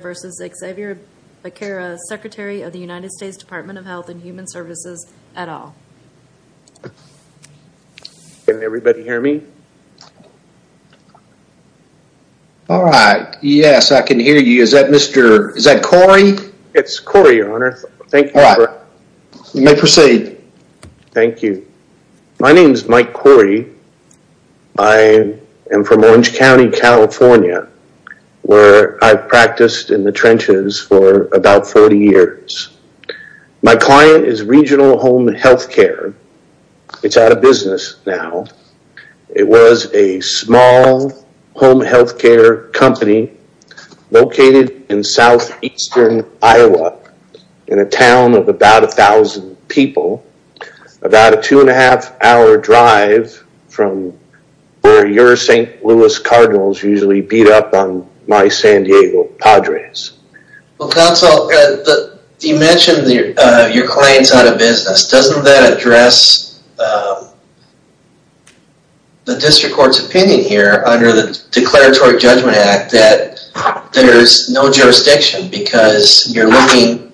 versus Xavier Becerra, Secretary of the United States Department of Health and Human Services et al. Can everybody hear me? Alright, yes I can hear you. Is that Mr., is that Corey? It's Corey, your honor. Thank you. Alright, you may proceed. Thank you. My name is Mike Corey. I am from Orange County, California where I've practiced in the trenches for about 40 years. My client is Regional Home Health Care. It's out of business now. It was a small home health care company located in southeastern Iowa in a town of about a thousand people. About a two and a half hour drive from where your St. Louis Cardinals usually beat up on my San Diego Padres. Well, counsel, you mentioned your client's out of business. Doesn't that address the District Court's opinion here under the Declaratory Judgment Act that there's no jurisdiction because you're looking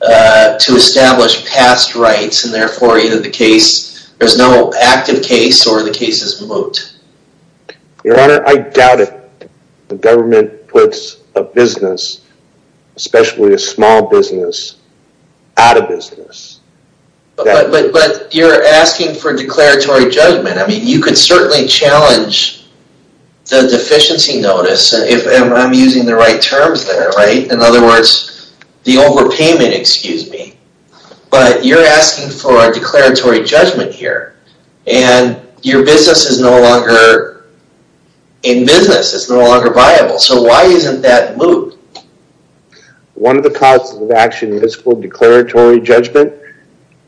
to establish past rights and therefore either the case, there's no active case or the case is moot. Your honor, I doubt it. The government puts a business, especially a small business, out of business. But you're asking for declaratory judgment. You could certainly challenge the deficiency notice if I'm using the right terms there. In other words, the overpayment, excuse me. But you're asking for a declaratory judgment here. Your business is no longer in business. It's no longer viable. So, why isn't that moot? One of the causes of action is for declaratory judgment.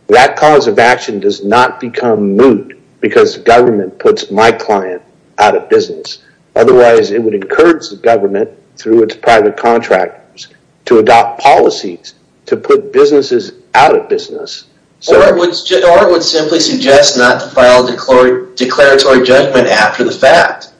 That cause of action does not become moot because the government puts my client out of business. Otherwise, it would encourage the government through its private contractors to adopt policies to put businesses out of business. Or it would simply suggest not to file a declaratory judgment after the fact.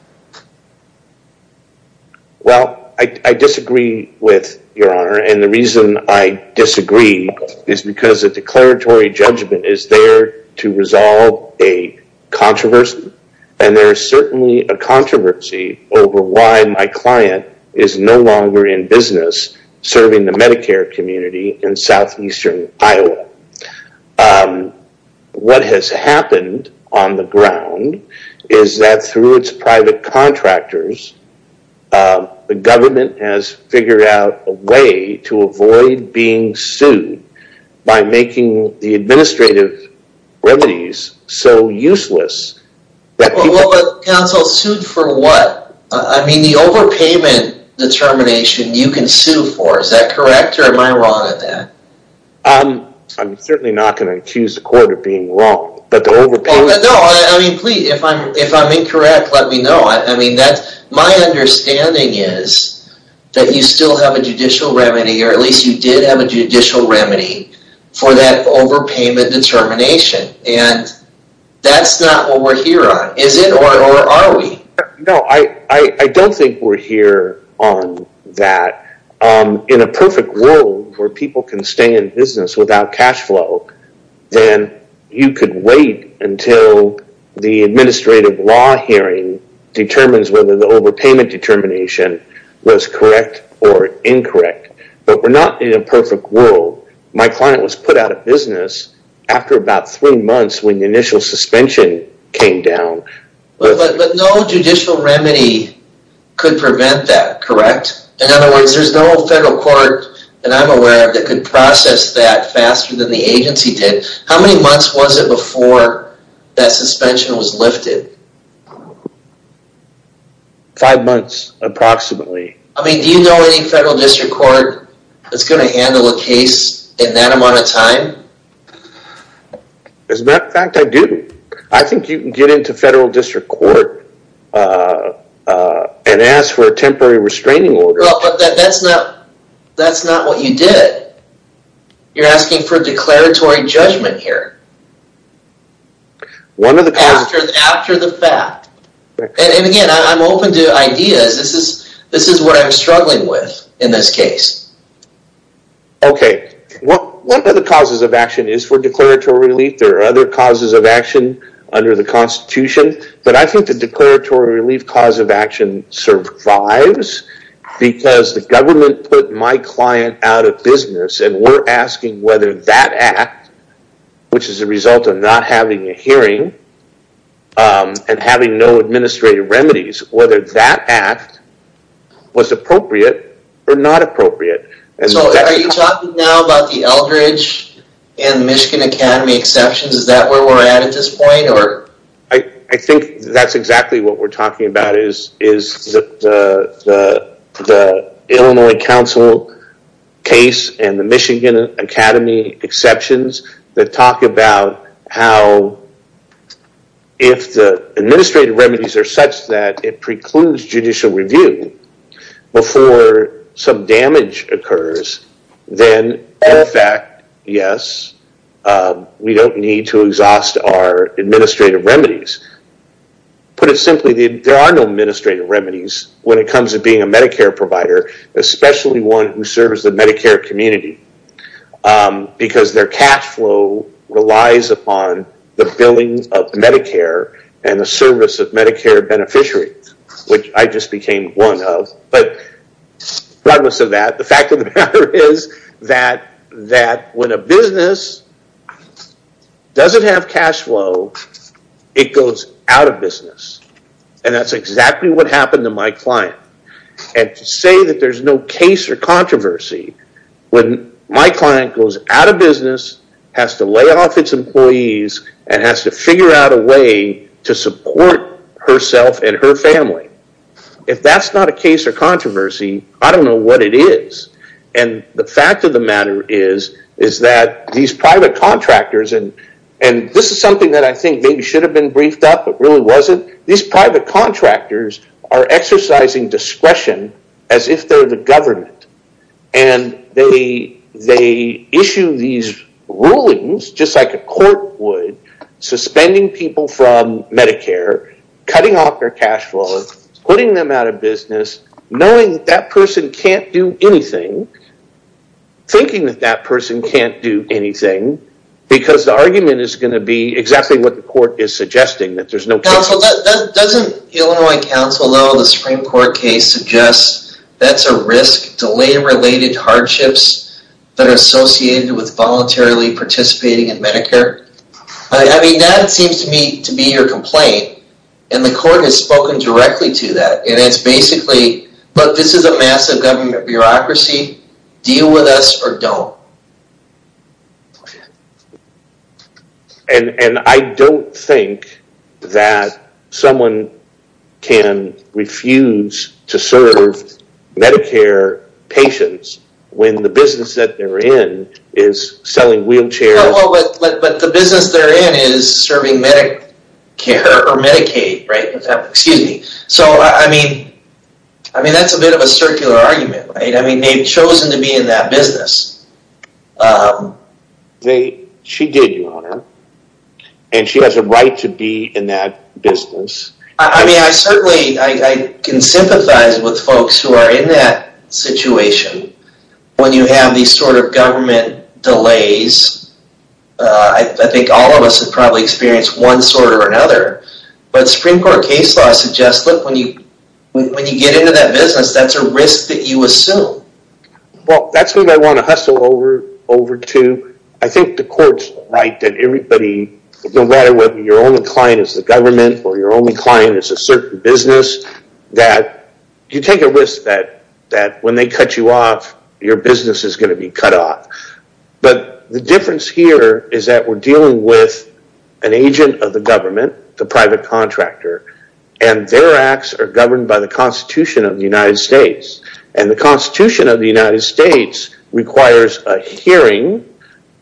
Well, I disagree with your honor and the reason I disagree is because a declaratory judgment is there to resolve a controversy. And there is certainly a controversy over why my client is no longer in business serving the Medicare community in Southeastern Iowa. But, what has happened on the ground is that through its private contractors, the government has figured out a way to avoid being sued by making the administrative remedies so useless that people... Well, but counsel, sued for what? I mean, the overpayment determination you can sue for, is that correct or am I wrong on that? Um, I'm certainly not going to accuse the court of being wrong, but the overpayment... No, I mean, please, if I'm incorrect, let me know. My understanding is that you still have a judicial remedy, or at least you did have a judicial remedy for that overpayment determination and that's not what we're here on, is it? Or are we? No, I don't think we're here on that. In a perfect world where people can stay in business without cash flow, then you could wait until the administrative law hearing determines whether the overpayment determination was correct or incorrect. But we're not in a perfect world. My client was put out of business after about three months when the initial suspension came down. But no judicial remedy could prevent that, correct? In other words, there's no federal court that I'm aware of that can process that faster than the agency did. How many months was it before that suspension was lifted? Five months, approximately. I mean, do you know any federal district court that's going to handle a case in that amount of time? As a matter of fact, I do. I think you can get into federal district court and ask for a temporary restraining order. Well, but that's not what you did. You're asking for declaratory judgment here. One of the causes... After the fact. And again, I'm open to ideas. This is what I'm struggling with in this case. Okay. One of the causes of action is for declaratory relief. I think there are other causes of action under the Constitution, but I think the declaratory relief cause of action survives because the government put my client out of business and we're asking whether that act, which is a result of not having a hearing and having no administrative remedies, whether that act was appropriate or not appropriate. So are you talking now about the Eldridge and Michigan Academy exceptions? Is that where we're at at this point? I think that's exactly what we're talking about is the Illinois Council case and the Michigan Academy exceptions that talk about how if the administrative remedies are such that it precludes judicial review before some damage occurs, then all fact, yes, we don't need to exhaust our administrative remedies. Put it simply, there are no administrative remedies when it comes to being a Medicare provider, especially one who serves the Medicare community because their cash flow relies upon the billing of Medicare and the service of Medicare beneficiaries, which I just became one of. But regardless of that, the fact of the matter is that when a business doesn't have cash flow, it goes out of business, and that's exactly what happened to my client. To say that there's no case or controversy when my client goes out of business, has to figure out a way to support herself and her family. If that's not a case or controversy, I don't know what it is. The fact of the matter is that these private contractors, and this is something that I think maybe should have been briefed up, but really wasn't. These private contractors are exercising discretion as if they're the government, and they issue these rulings, just like a court would, suspending people from Medicare, cutting off their cash flow, putting them out of business, knowing that that person can't do anything, thinking that that person can't do anything, because the argument is going to be exactly what the court is suggesting, that there's no case. Counsel, doesn't Illinois counsel know the Supreme Court case suggests that's a risk to lay related hardships that are associated with voluntarily participating in Medicare? I mean, that seems to me to be your complaint, and the court has spoken directly to that, and it's basically, look, this is a massive government bureaucracy, deal with us or don't. And I don't think that someone can refuse to serve Medicare patients when the business that they're in is selling wheelchairs. But the business they're in is serving Medicare or Medicaid, right, excuse me. So I mean, that's a bit of a circular argument, right, I mean they've chosen to be in that business. She did, Your Honor, and she has a right to be in that business. I mean, I certainly, I can sympathize with folks who are in that situation. When you have these sort of government delays, I think all of us have probably experienced one sort or another, but Supreme Court case law suggests, look, when you get into that business, that's a risk that you assume. Well, that's what I want to hustle over to. I think the courts write that everybody, no matter whether your only client is the government or your only client is a certain business, that you take a risk that when they cut you off, your business is going to be cut off. But the difference here is that we're dealing with an agent of the government, the private contractor, and their acts are governed by the Constitution of the United States, and the Constitution of the United States requires a hearing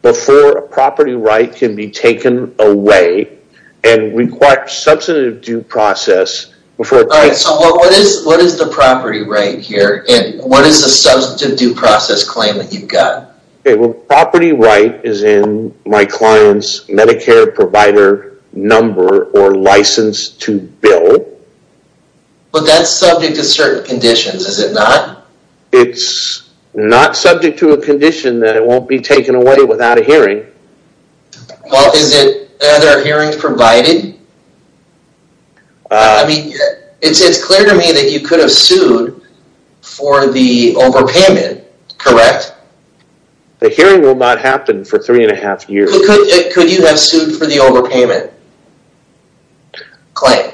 before a property right can be taken away and requires substantive due process before it can be taken away. All right, so what is the property right here, and what is the substantive due process claim that you've got? Okay, well, property right is in my client's Medicare provider number or license to bill. But that's subject to certain conditions, is it not? It's not subject to a condition that it won't be taken away without a hearing. Well, is it that are hearings provided? I mean, it's clear to me that you could have sued for the overpayment, correct? The hearing will not happen for three and a half years. Could you have sued for the overpayment claim?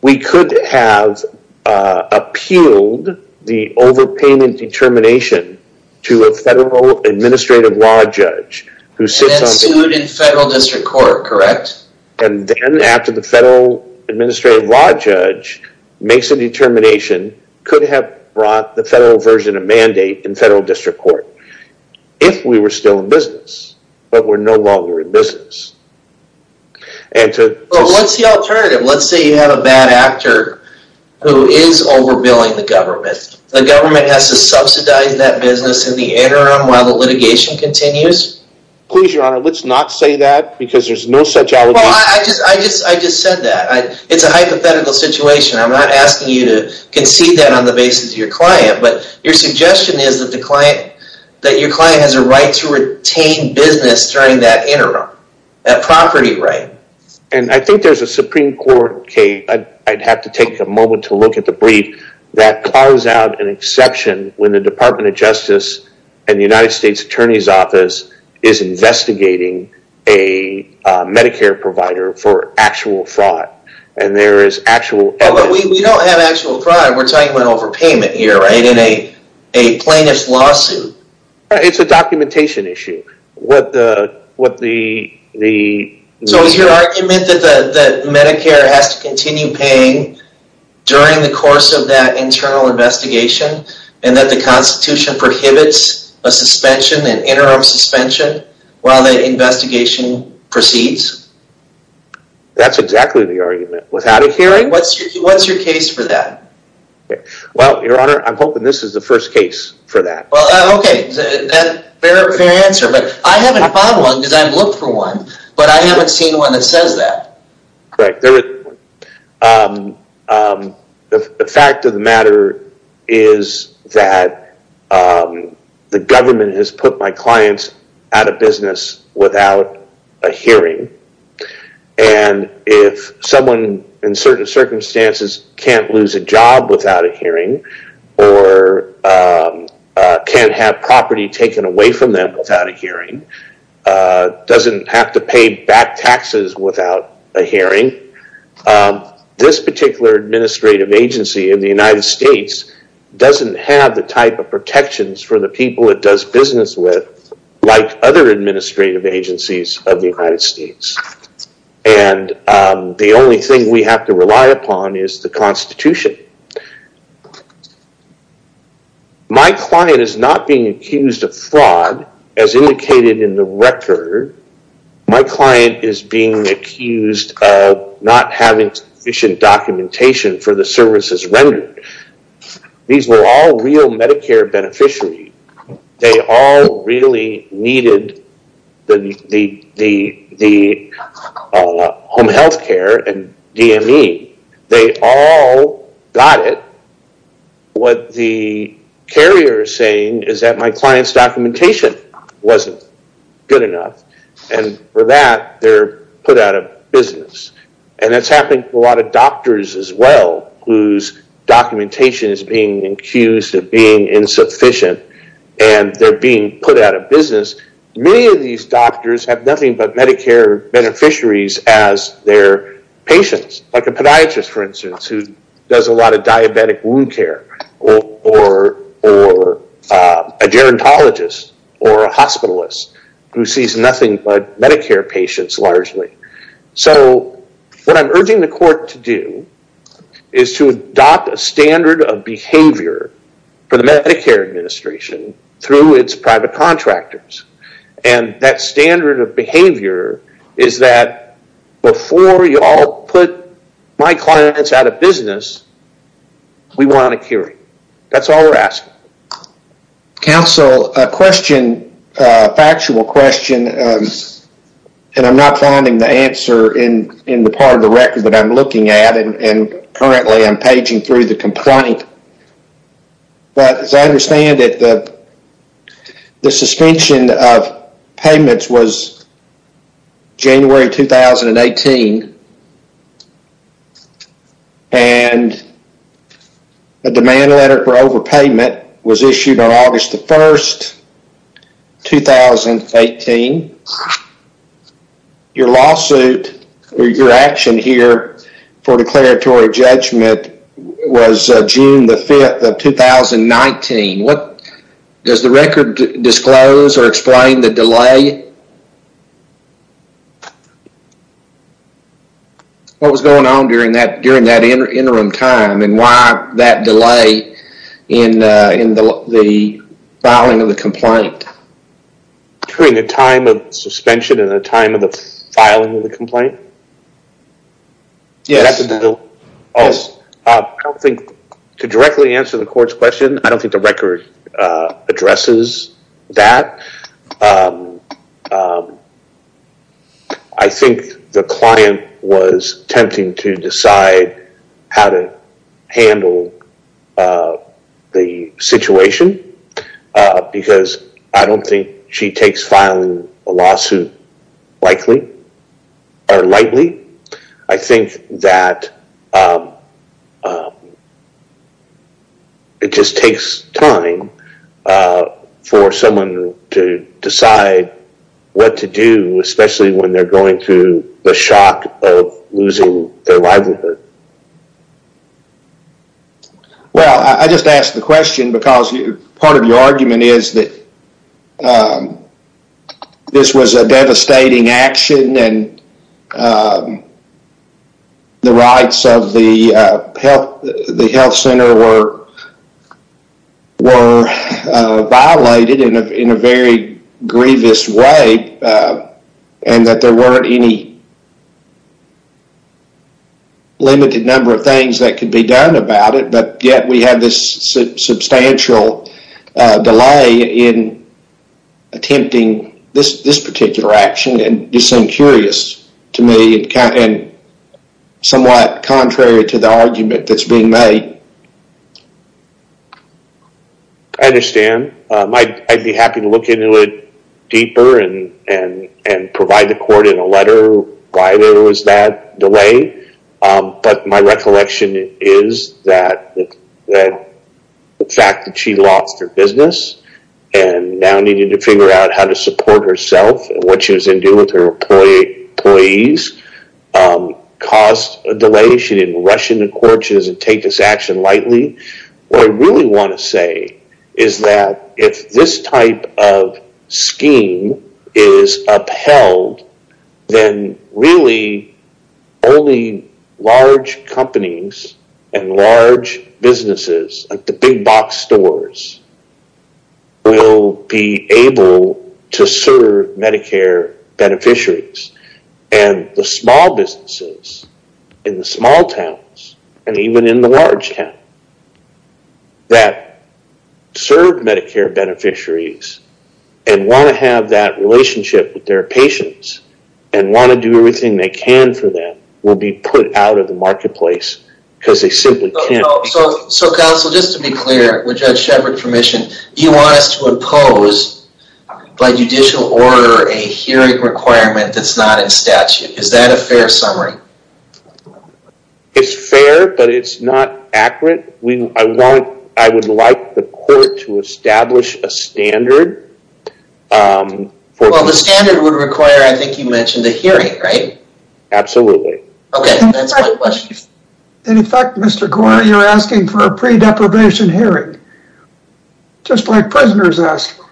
We could have appealed the overpayment determination to a federal administrative law judge who sits on- And then sued in federal district court, correct? And then after the federal administrative law judge makes a determination, could have brought the federal version of mandate in federal district court, if we were still in business, but we're no longer in business. And to- Let's say you have an administrative. Let's say you have a bad actor who is over-billing the government. The government has to subsidize that business in the interim while the litigation continues? Please, your honor, let's not say that because there's no such- Well, I just said that. It's a hypothetical situation. I'm not asking you to concede that on the basis of your client, but your suggestion is that your client has a right to retain business during that interim, that property right. And I think there's a Supreme Court case, I'd have to take a moment to look at the brief, that calls out an exception when the Department of Justice and the United States Attorney's Office is investigating a Medicare provider for actual fraud. And there is actual evidence- But we don't have actual fraud. We're talking about overpayment here, right, in a plaintiff's lawsuit. It's a documentation issue. What the- So is your argument that Medicare has to continue paying during the course of that internal investigation and that the Constitution prohibits a suspension, an interim suspension, while the investigation proceeds? That's exactly the argument. Without a hearing- What's your case for that? Well, your honor, I'm hoping this is the first case for that. Well, okay. Fair answer. But I haven't found one because I've looked for one, but I haven't seen one that says that. Correct. The fact of the matter is that the government has put my clients out of business without a hearing. And if someone in certain circumstances can't lose a job without a hearing, or can't have a hearing, doesn't have to pay back taxes without a hearing, this particular administrative agency in the United States doesn't have the type of protections for the people it does business with like other administrative agencies of the United States. And the only thing we have to rely upon is the Constitution. My client is not being accused of fraud, as indicated in the record. My client is being accused of not having sufficient documentation for the services rendered. These were all real Medicare beneficiaries. They all really needed the home healthcare and DME. They all got it. What the carrier is saying is that my client's documentation wasn't good enough. And for that, they're put out of business. And that's happening to a lot of doctors as well, whose documentation is being accused of being insufficient, and they're being put out of business. Many of these doctors have nothing but Medicare beneficiaries as their patients. Like a podiatrist, for instance, who does a lot of diabetic wound care, or a gerontologist, or a hospitalist, who sees nothing but Medicare patients, largely. So what I'm urging the court to do is to adopt a standard of behavior for the Medicare administration through its private contractors. And that standard of behavior is that before you all put my clients out of business, we want a hearing. That's all we're asking. Counsel, a question, a factual question, and I'm not finding the answer in the part of the record that I'm looking at, and currently I'm paging through the complaint. But as I understand it, the suspension of payments was January 2018, and a demand letter for overpayment was issued on August the 1st, 2018. Your lawsuit, or your action here for declaratory judgment was June the 5th of 2019. Does the record disclose or explain the delay? What was going on during that interim time, and why that delay in the filing of the complaint? During the time of suspension and the time of the filing of the complaint? Yes. Oh, I don't think, to directly answer the court's question, I don't think the record addresses that. I think the client was attempting to decide how to handle the situation, because I don't think she takes filing a lawsuit lightly. I think that it just takes time for someone to decide what to do, especially when they're going through the shock of losing their livelihood. Well, I just asked the question because part of your argument is that this was a devastating action and the rights of the health center were violated in a very grievous way, and that there weren't any limited number of things that could be done about it, but yet we have this substantial delay in attempting this particular action, and you seem curious to me and somewhat contrary to the argument that's being made. I understand. I'd be happy to look into it deeper and provide the court in a letter why there was that delay, but my recollection is that the fact that she lost her business and now needed to figure out how to support herself and what she was going to do with her employees caused a delay. She didn't rush into court. She doesn't take this action lightly. What I really want to say is that if this type of scheme is upheld, then really only large companies and large businesses like the big box stores will be able to serve Medicare beneficiaries, and the small businesses in the small towns and even in the large towns that serve Medicare beneficiaries and want to have that relationship with their patients and want to do everything they can for them will be put out of the marketplace because they simply can't. Counsel, just to be clear, with Judge Shepard's permission, you want us to impose by judicial order a hearing requirement that's not in statute. Is that a fair summary? It's fair, but it's not accurate. I would like the court to establish a standard. Well, the standard would require, I think you mentioned, a hearing, right? Absolutely. Okay, that's my question. In fact, Mr. Goyer, you're asking for a pre-deprivation hearing, just like prisoners ask for.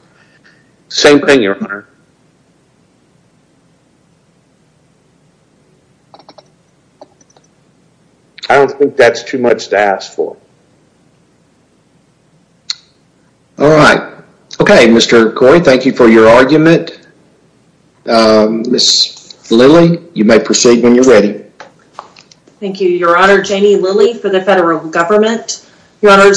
Same thing, Your Honor. I don't think that's too much to ask for. All right. Okay, Mr. Goyer, thank you for your argument. Ms. Lilly, you may proceed when you're ready. Thank you, Your Honor. Jamie Lilly for the federal government. Your Honor,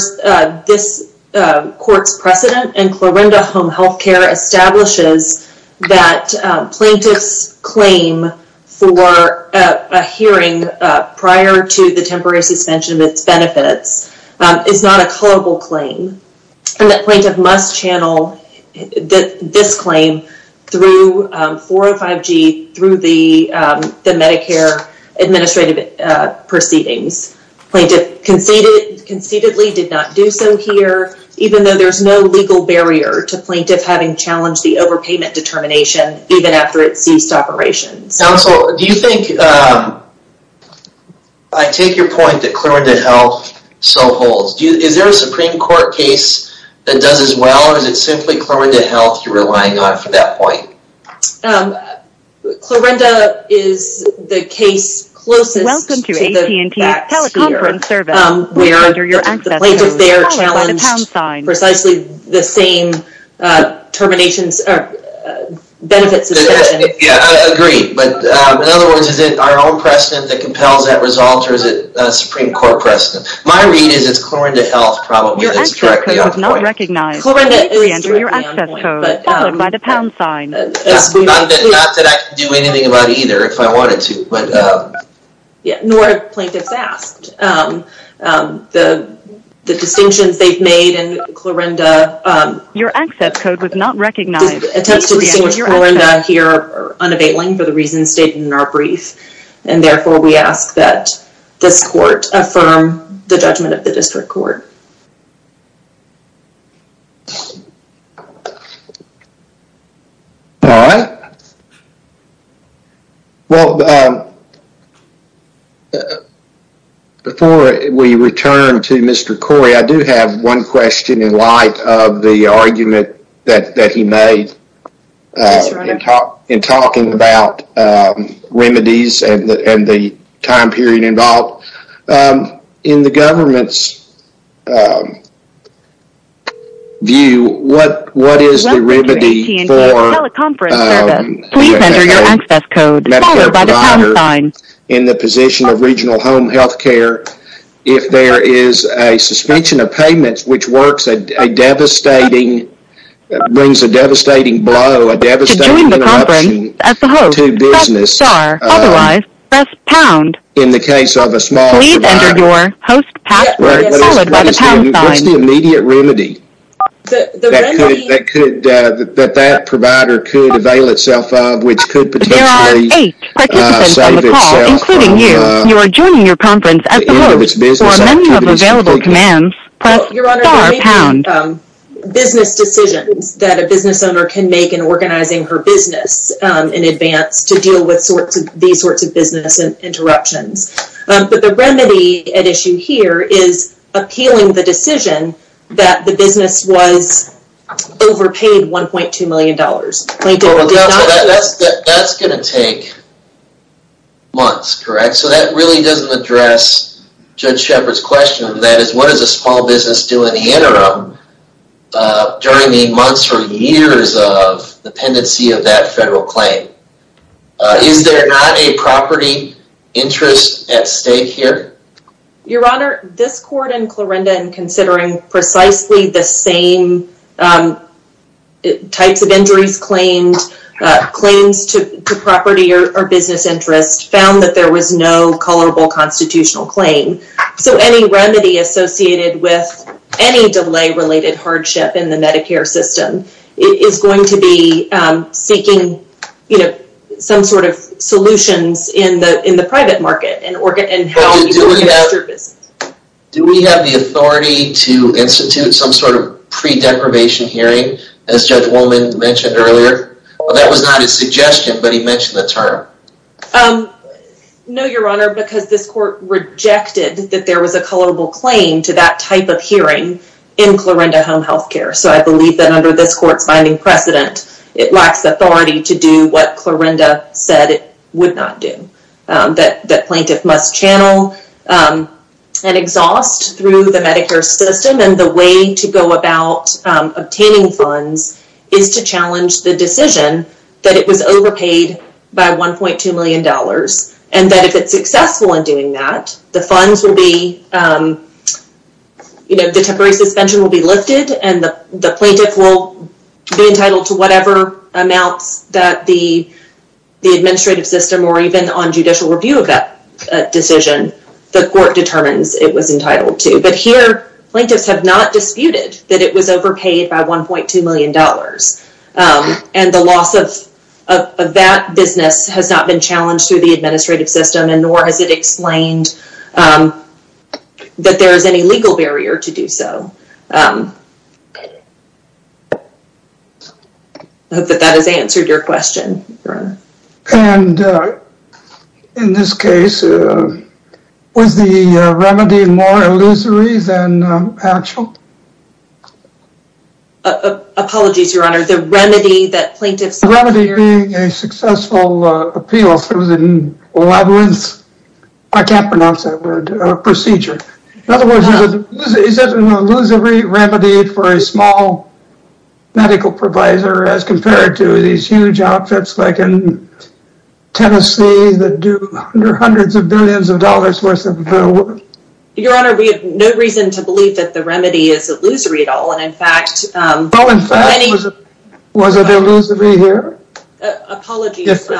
this court's precedent in Clarinda Home Healthcare establishes that plaintiff's claim for a hearing prior to the temporary suspension of its benefits is not a culpable claim, and that plaintiff must channel this claim through 405G, through the Medicare administrative proceedings. Plaintiff concededly did not do so here, even though there's no legal barrier to plaintiff having challenged the overpayment determination, even after it ceased operations. Counsel, do you think... I take your point that Clarinda Health so holds. Is there a Supreme Court case that does as well, or is it simply Clarinda Health you're relying on for that point? Clarinda is the case closest to the facts here, where the plaintiff there challenged precisely the same benefit suspension. Yeah, I agree. In other words, is it our own precedent that compels that result, or is it a Supreme Court precedent? My read is it's Clarinda Health probably that's directly on the point. Clarinda is directly on the point, but... Not that I can do anything about either, if I wanted to, but... Yeah, nor have plaintiffs asked. The distinctions they've made in Clarinda... Your access code was not recognized. Attempts to distinguish Clarinda here are unabateling for the reasons stated in our brief, and therefore we ask that this court affirm the judgment of the district court. All right. Well, before we return to Mr. Corey, I do have one question in light of the argument that he made in talking about remedies and the time period involved. In the government's view, what is the remedy for a healthcare provider in the position of regional home healthcare if there is a suspension of payments, which brings a devastating blow, a devastating interruption to business in the case of a small provider? What's the immediate remedy that that provider could avail itself of, which could potentially save itself the end of its business activities? Your Honor, there may be business decisions that a business owner can make in organizing her business in advance to deal with these sorts of business interruptions, but the remedy at issue here is appealing the decision that the business was overpaid $1.2 million. Plaintiff did not... That's going to take months, correct? So that really doesn't address Judge Shepard's question. That is, what does a small business do in the interim during the months or years of dependency of that federal claim? Is there not a property interest at stake here? Your Honor, this court and Clorinda, in considering precisely the same types of injuries claims to property or business interest, found that there was no culpable constitutional claim. So any remedy associated with any delay-related hardship in the Medicare system is going to be seeking some sort of solutions in the private market and how you can manage your business. Do we have the authority to institute some sort of pre-deprivation hearing, as Judge That was not his suggestion, but he mentioned the term. No, Your Honor, because this court rejected that there was a culpable claim to that type of hearing in Clorinda Home Healthcare. So I believe that under this court's binding precedent, it lacks authority to do what Clorinda said it would not do. That plaintiff must channel an exhaust through the Medicare system, and the way to go about obtaining funds is to challenge the decision that it was overpaid by $1.2 million, and that if it's successful in doing that, the temporary suspension will be lifted, and the plaintiff will be entitled to whatever amounts that the administrative system, or even on judicial review of that decision, the court determines it was entitled to. But here, plaintiffs have not disputed that it was overpaid by $1.2 million, and the loss of that business has not been challenged through the administrative system, and nor has it explained that there is any legal barrier to do so. I hope that that has answered your question, Your Honor. And in this case, was the remedy more illusory than actual? Apologies, Your Honor. The remedy that plaintiffs... The remedy being a successful appeal through the labyrinth, I can't pronounce that word, procedure. In other words, is it an illusory remedy for a small medical provider as compared to these in Tennessee that do hundreds of billions of dollars worth of work? Your Honor, we have no reason to believe that the remedy is illusory at all, and in fact... Well, in fact, was it illusory here? Apologies for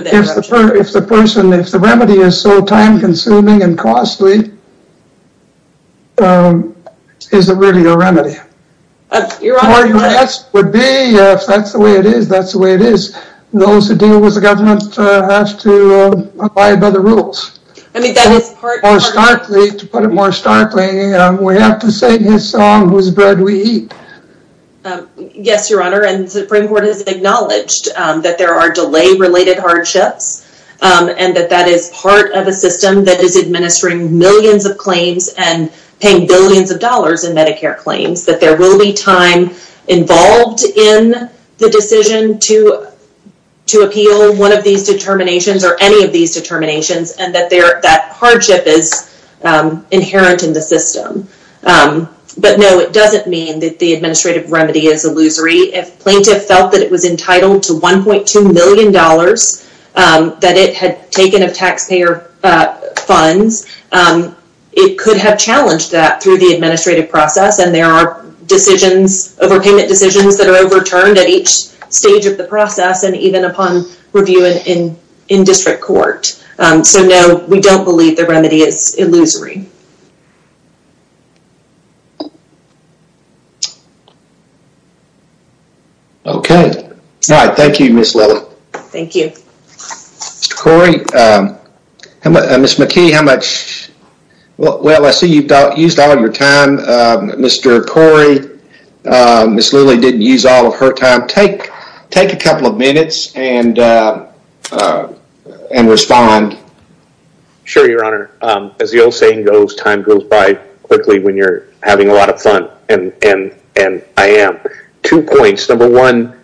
the interruption. If the person... If the remedy is so time-consuming and costly, is it really a remedy? Your Honor... If that's the way it is, that's the way it is. Those who deal with the government have to abide by the rules. To put it more starkly, we have to sing his song, whose bread we eat. Yes, Your Honor, and the Supreme Court has acknowledged that there are delay-related hardships, and that that is part of a system that is administering millions of claims and paying billions of dollars in Medicare claims, that there will be time involved in the decision to appeal one of these determinations or any of these determinations, and that hardship is inherent in the system. But no, it doesn't mean that the administrative remedy is illusory. If plaintiff felt that it was entitled to $1.2 million that it had taken of taxpayer funds, it could have challenged that through the administrative process, and there are decisions, overpayment decisions, that are overturned at each stage of the process and even upon review in district court. So, no, we don't believe the remedy is illusory. Okay. All right. Thank you, Ms. Lilly. Thank you. Mr. Corey, Ms. McKee, how much, well, I see you've used all your time. Mr. Corey, Ms. Lilly didn't use all of her time. Take a couple of minutes and respond. Sure, Your Honor. As the old saying goes, time goes by quickly when you're having a lot of fun, and I am. Two points. Number one,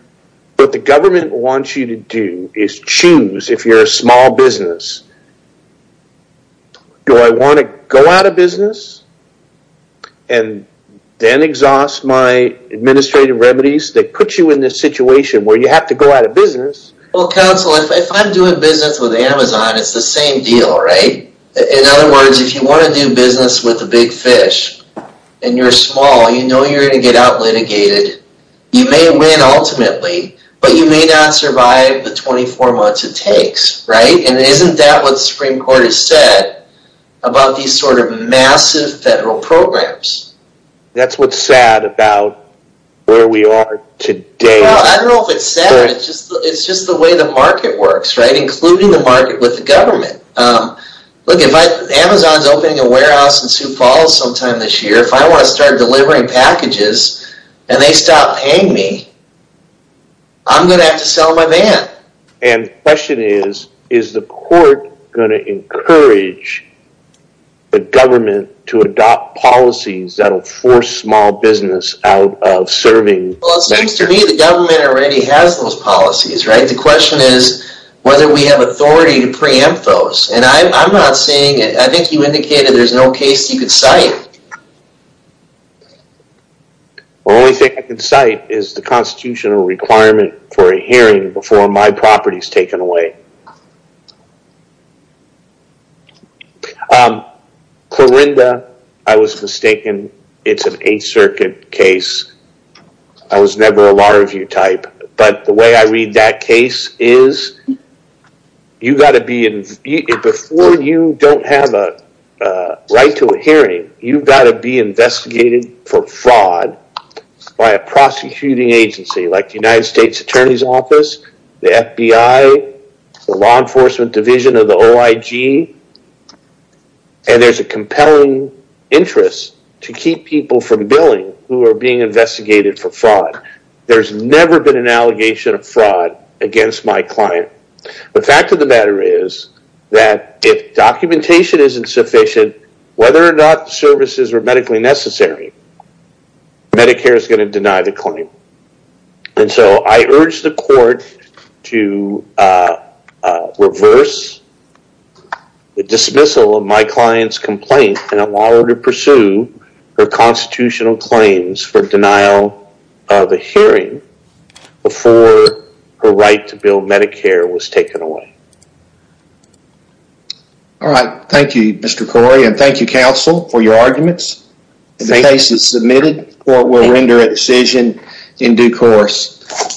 what the government wants you to do is choose, if you're a small business, do I want to go out of business and then exhaust my administrative remedies that put you in this situation where you have to go out of business? Well, counsel, if I'm doing business with Amazon, it's the same deal, right? In other words, if you want to do business with a big fish and you're small, you know when you're going to get outlitigated, you may win ultimately, but you may not survive the 24 months it takes, right? And isn't that what the Supreme Court has said about these sort of massive federal programs? That's what's sad about where we are today. Well, I don't know if it's sad, it's just the way the market works, right, including the market with the government. Look, if Amazon's opening a warehouse in Sioux Falls sometime this year, if I want to start delivering packages and they stop paying me, I'm going to have to sell my van. And the question is, is the court going to encourage the government to adopt policies that will force small business out of serving... Well, it seems to me the government already has those policies, right? The question is whether we have authority to preempt those. And I'm not saying... I think you indicated there's no case you can cite. The only thing I can cite is the constitutional requirement for a hearing before my property is taken away. Clorinda, I was mistaken, it's an Eighth Circuit case. I was never a law review type. But the way I read that case is, before you don't have a right to a hearing, you've got to be investigated for fraud by a prosecuting agency like the United States Attorney's Office, the FBI, the law enforcement division of the OIG, and there's a compelling interest to keep people from billing who are being investigated for fraud. There's never been an allegation of fraud against my client. The fact of the matter is that if documentation isn't sufficient, whether or not services are medically necessary, Medicare is going to deny the claim. And so I urge the court to reverse the dismissal of my client's complaint and allow her to have a hearing before her right to bill Medicare was taken away. Alright. Thank you, Mr. Corey. And thank you, counsel, for your arguments. If the case is submitted, the court will render a decision in due course.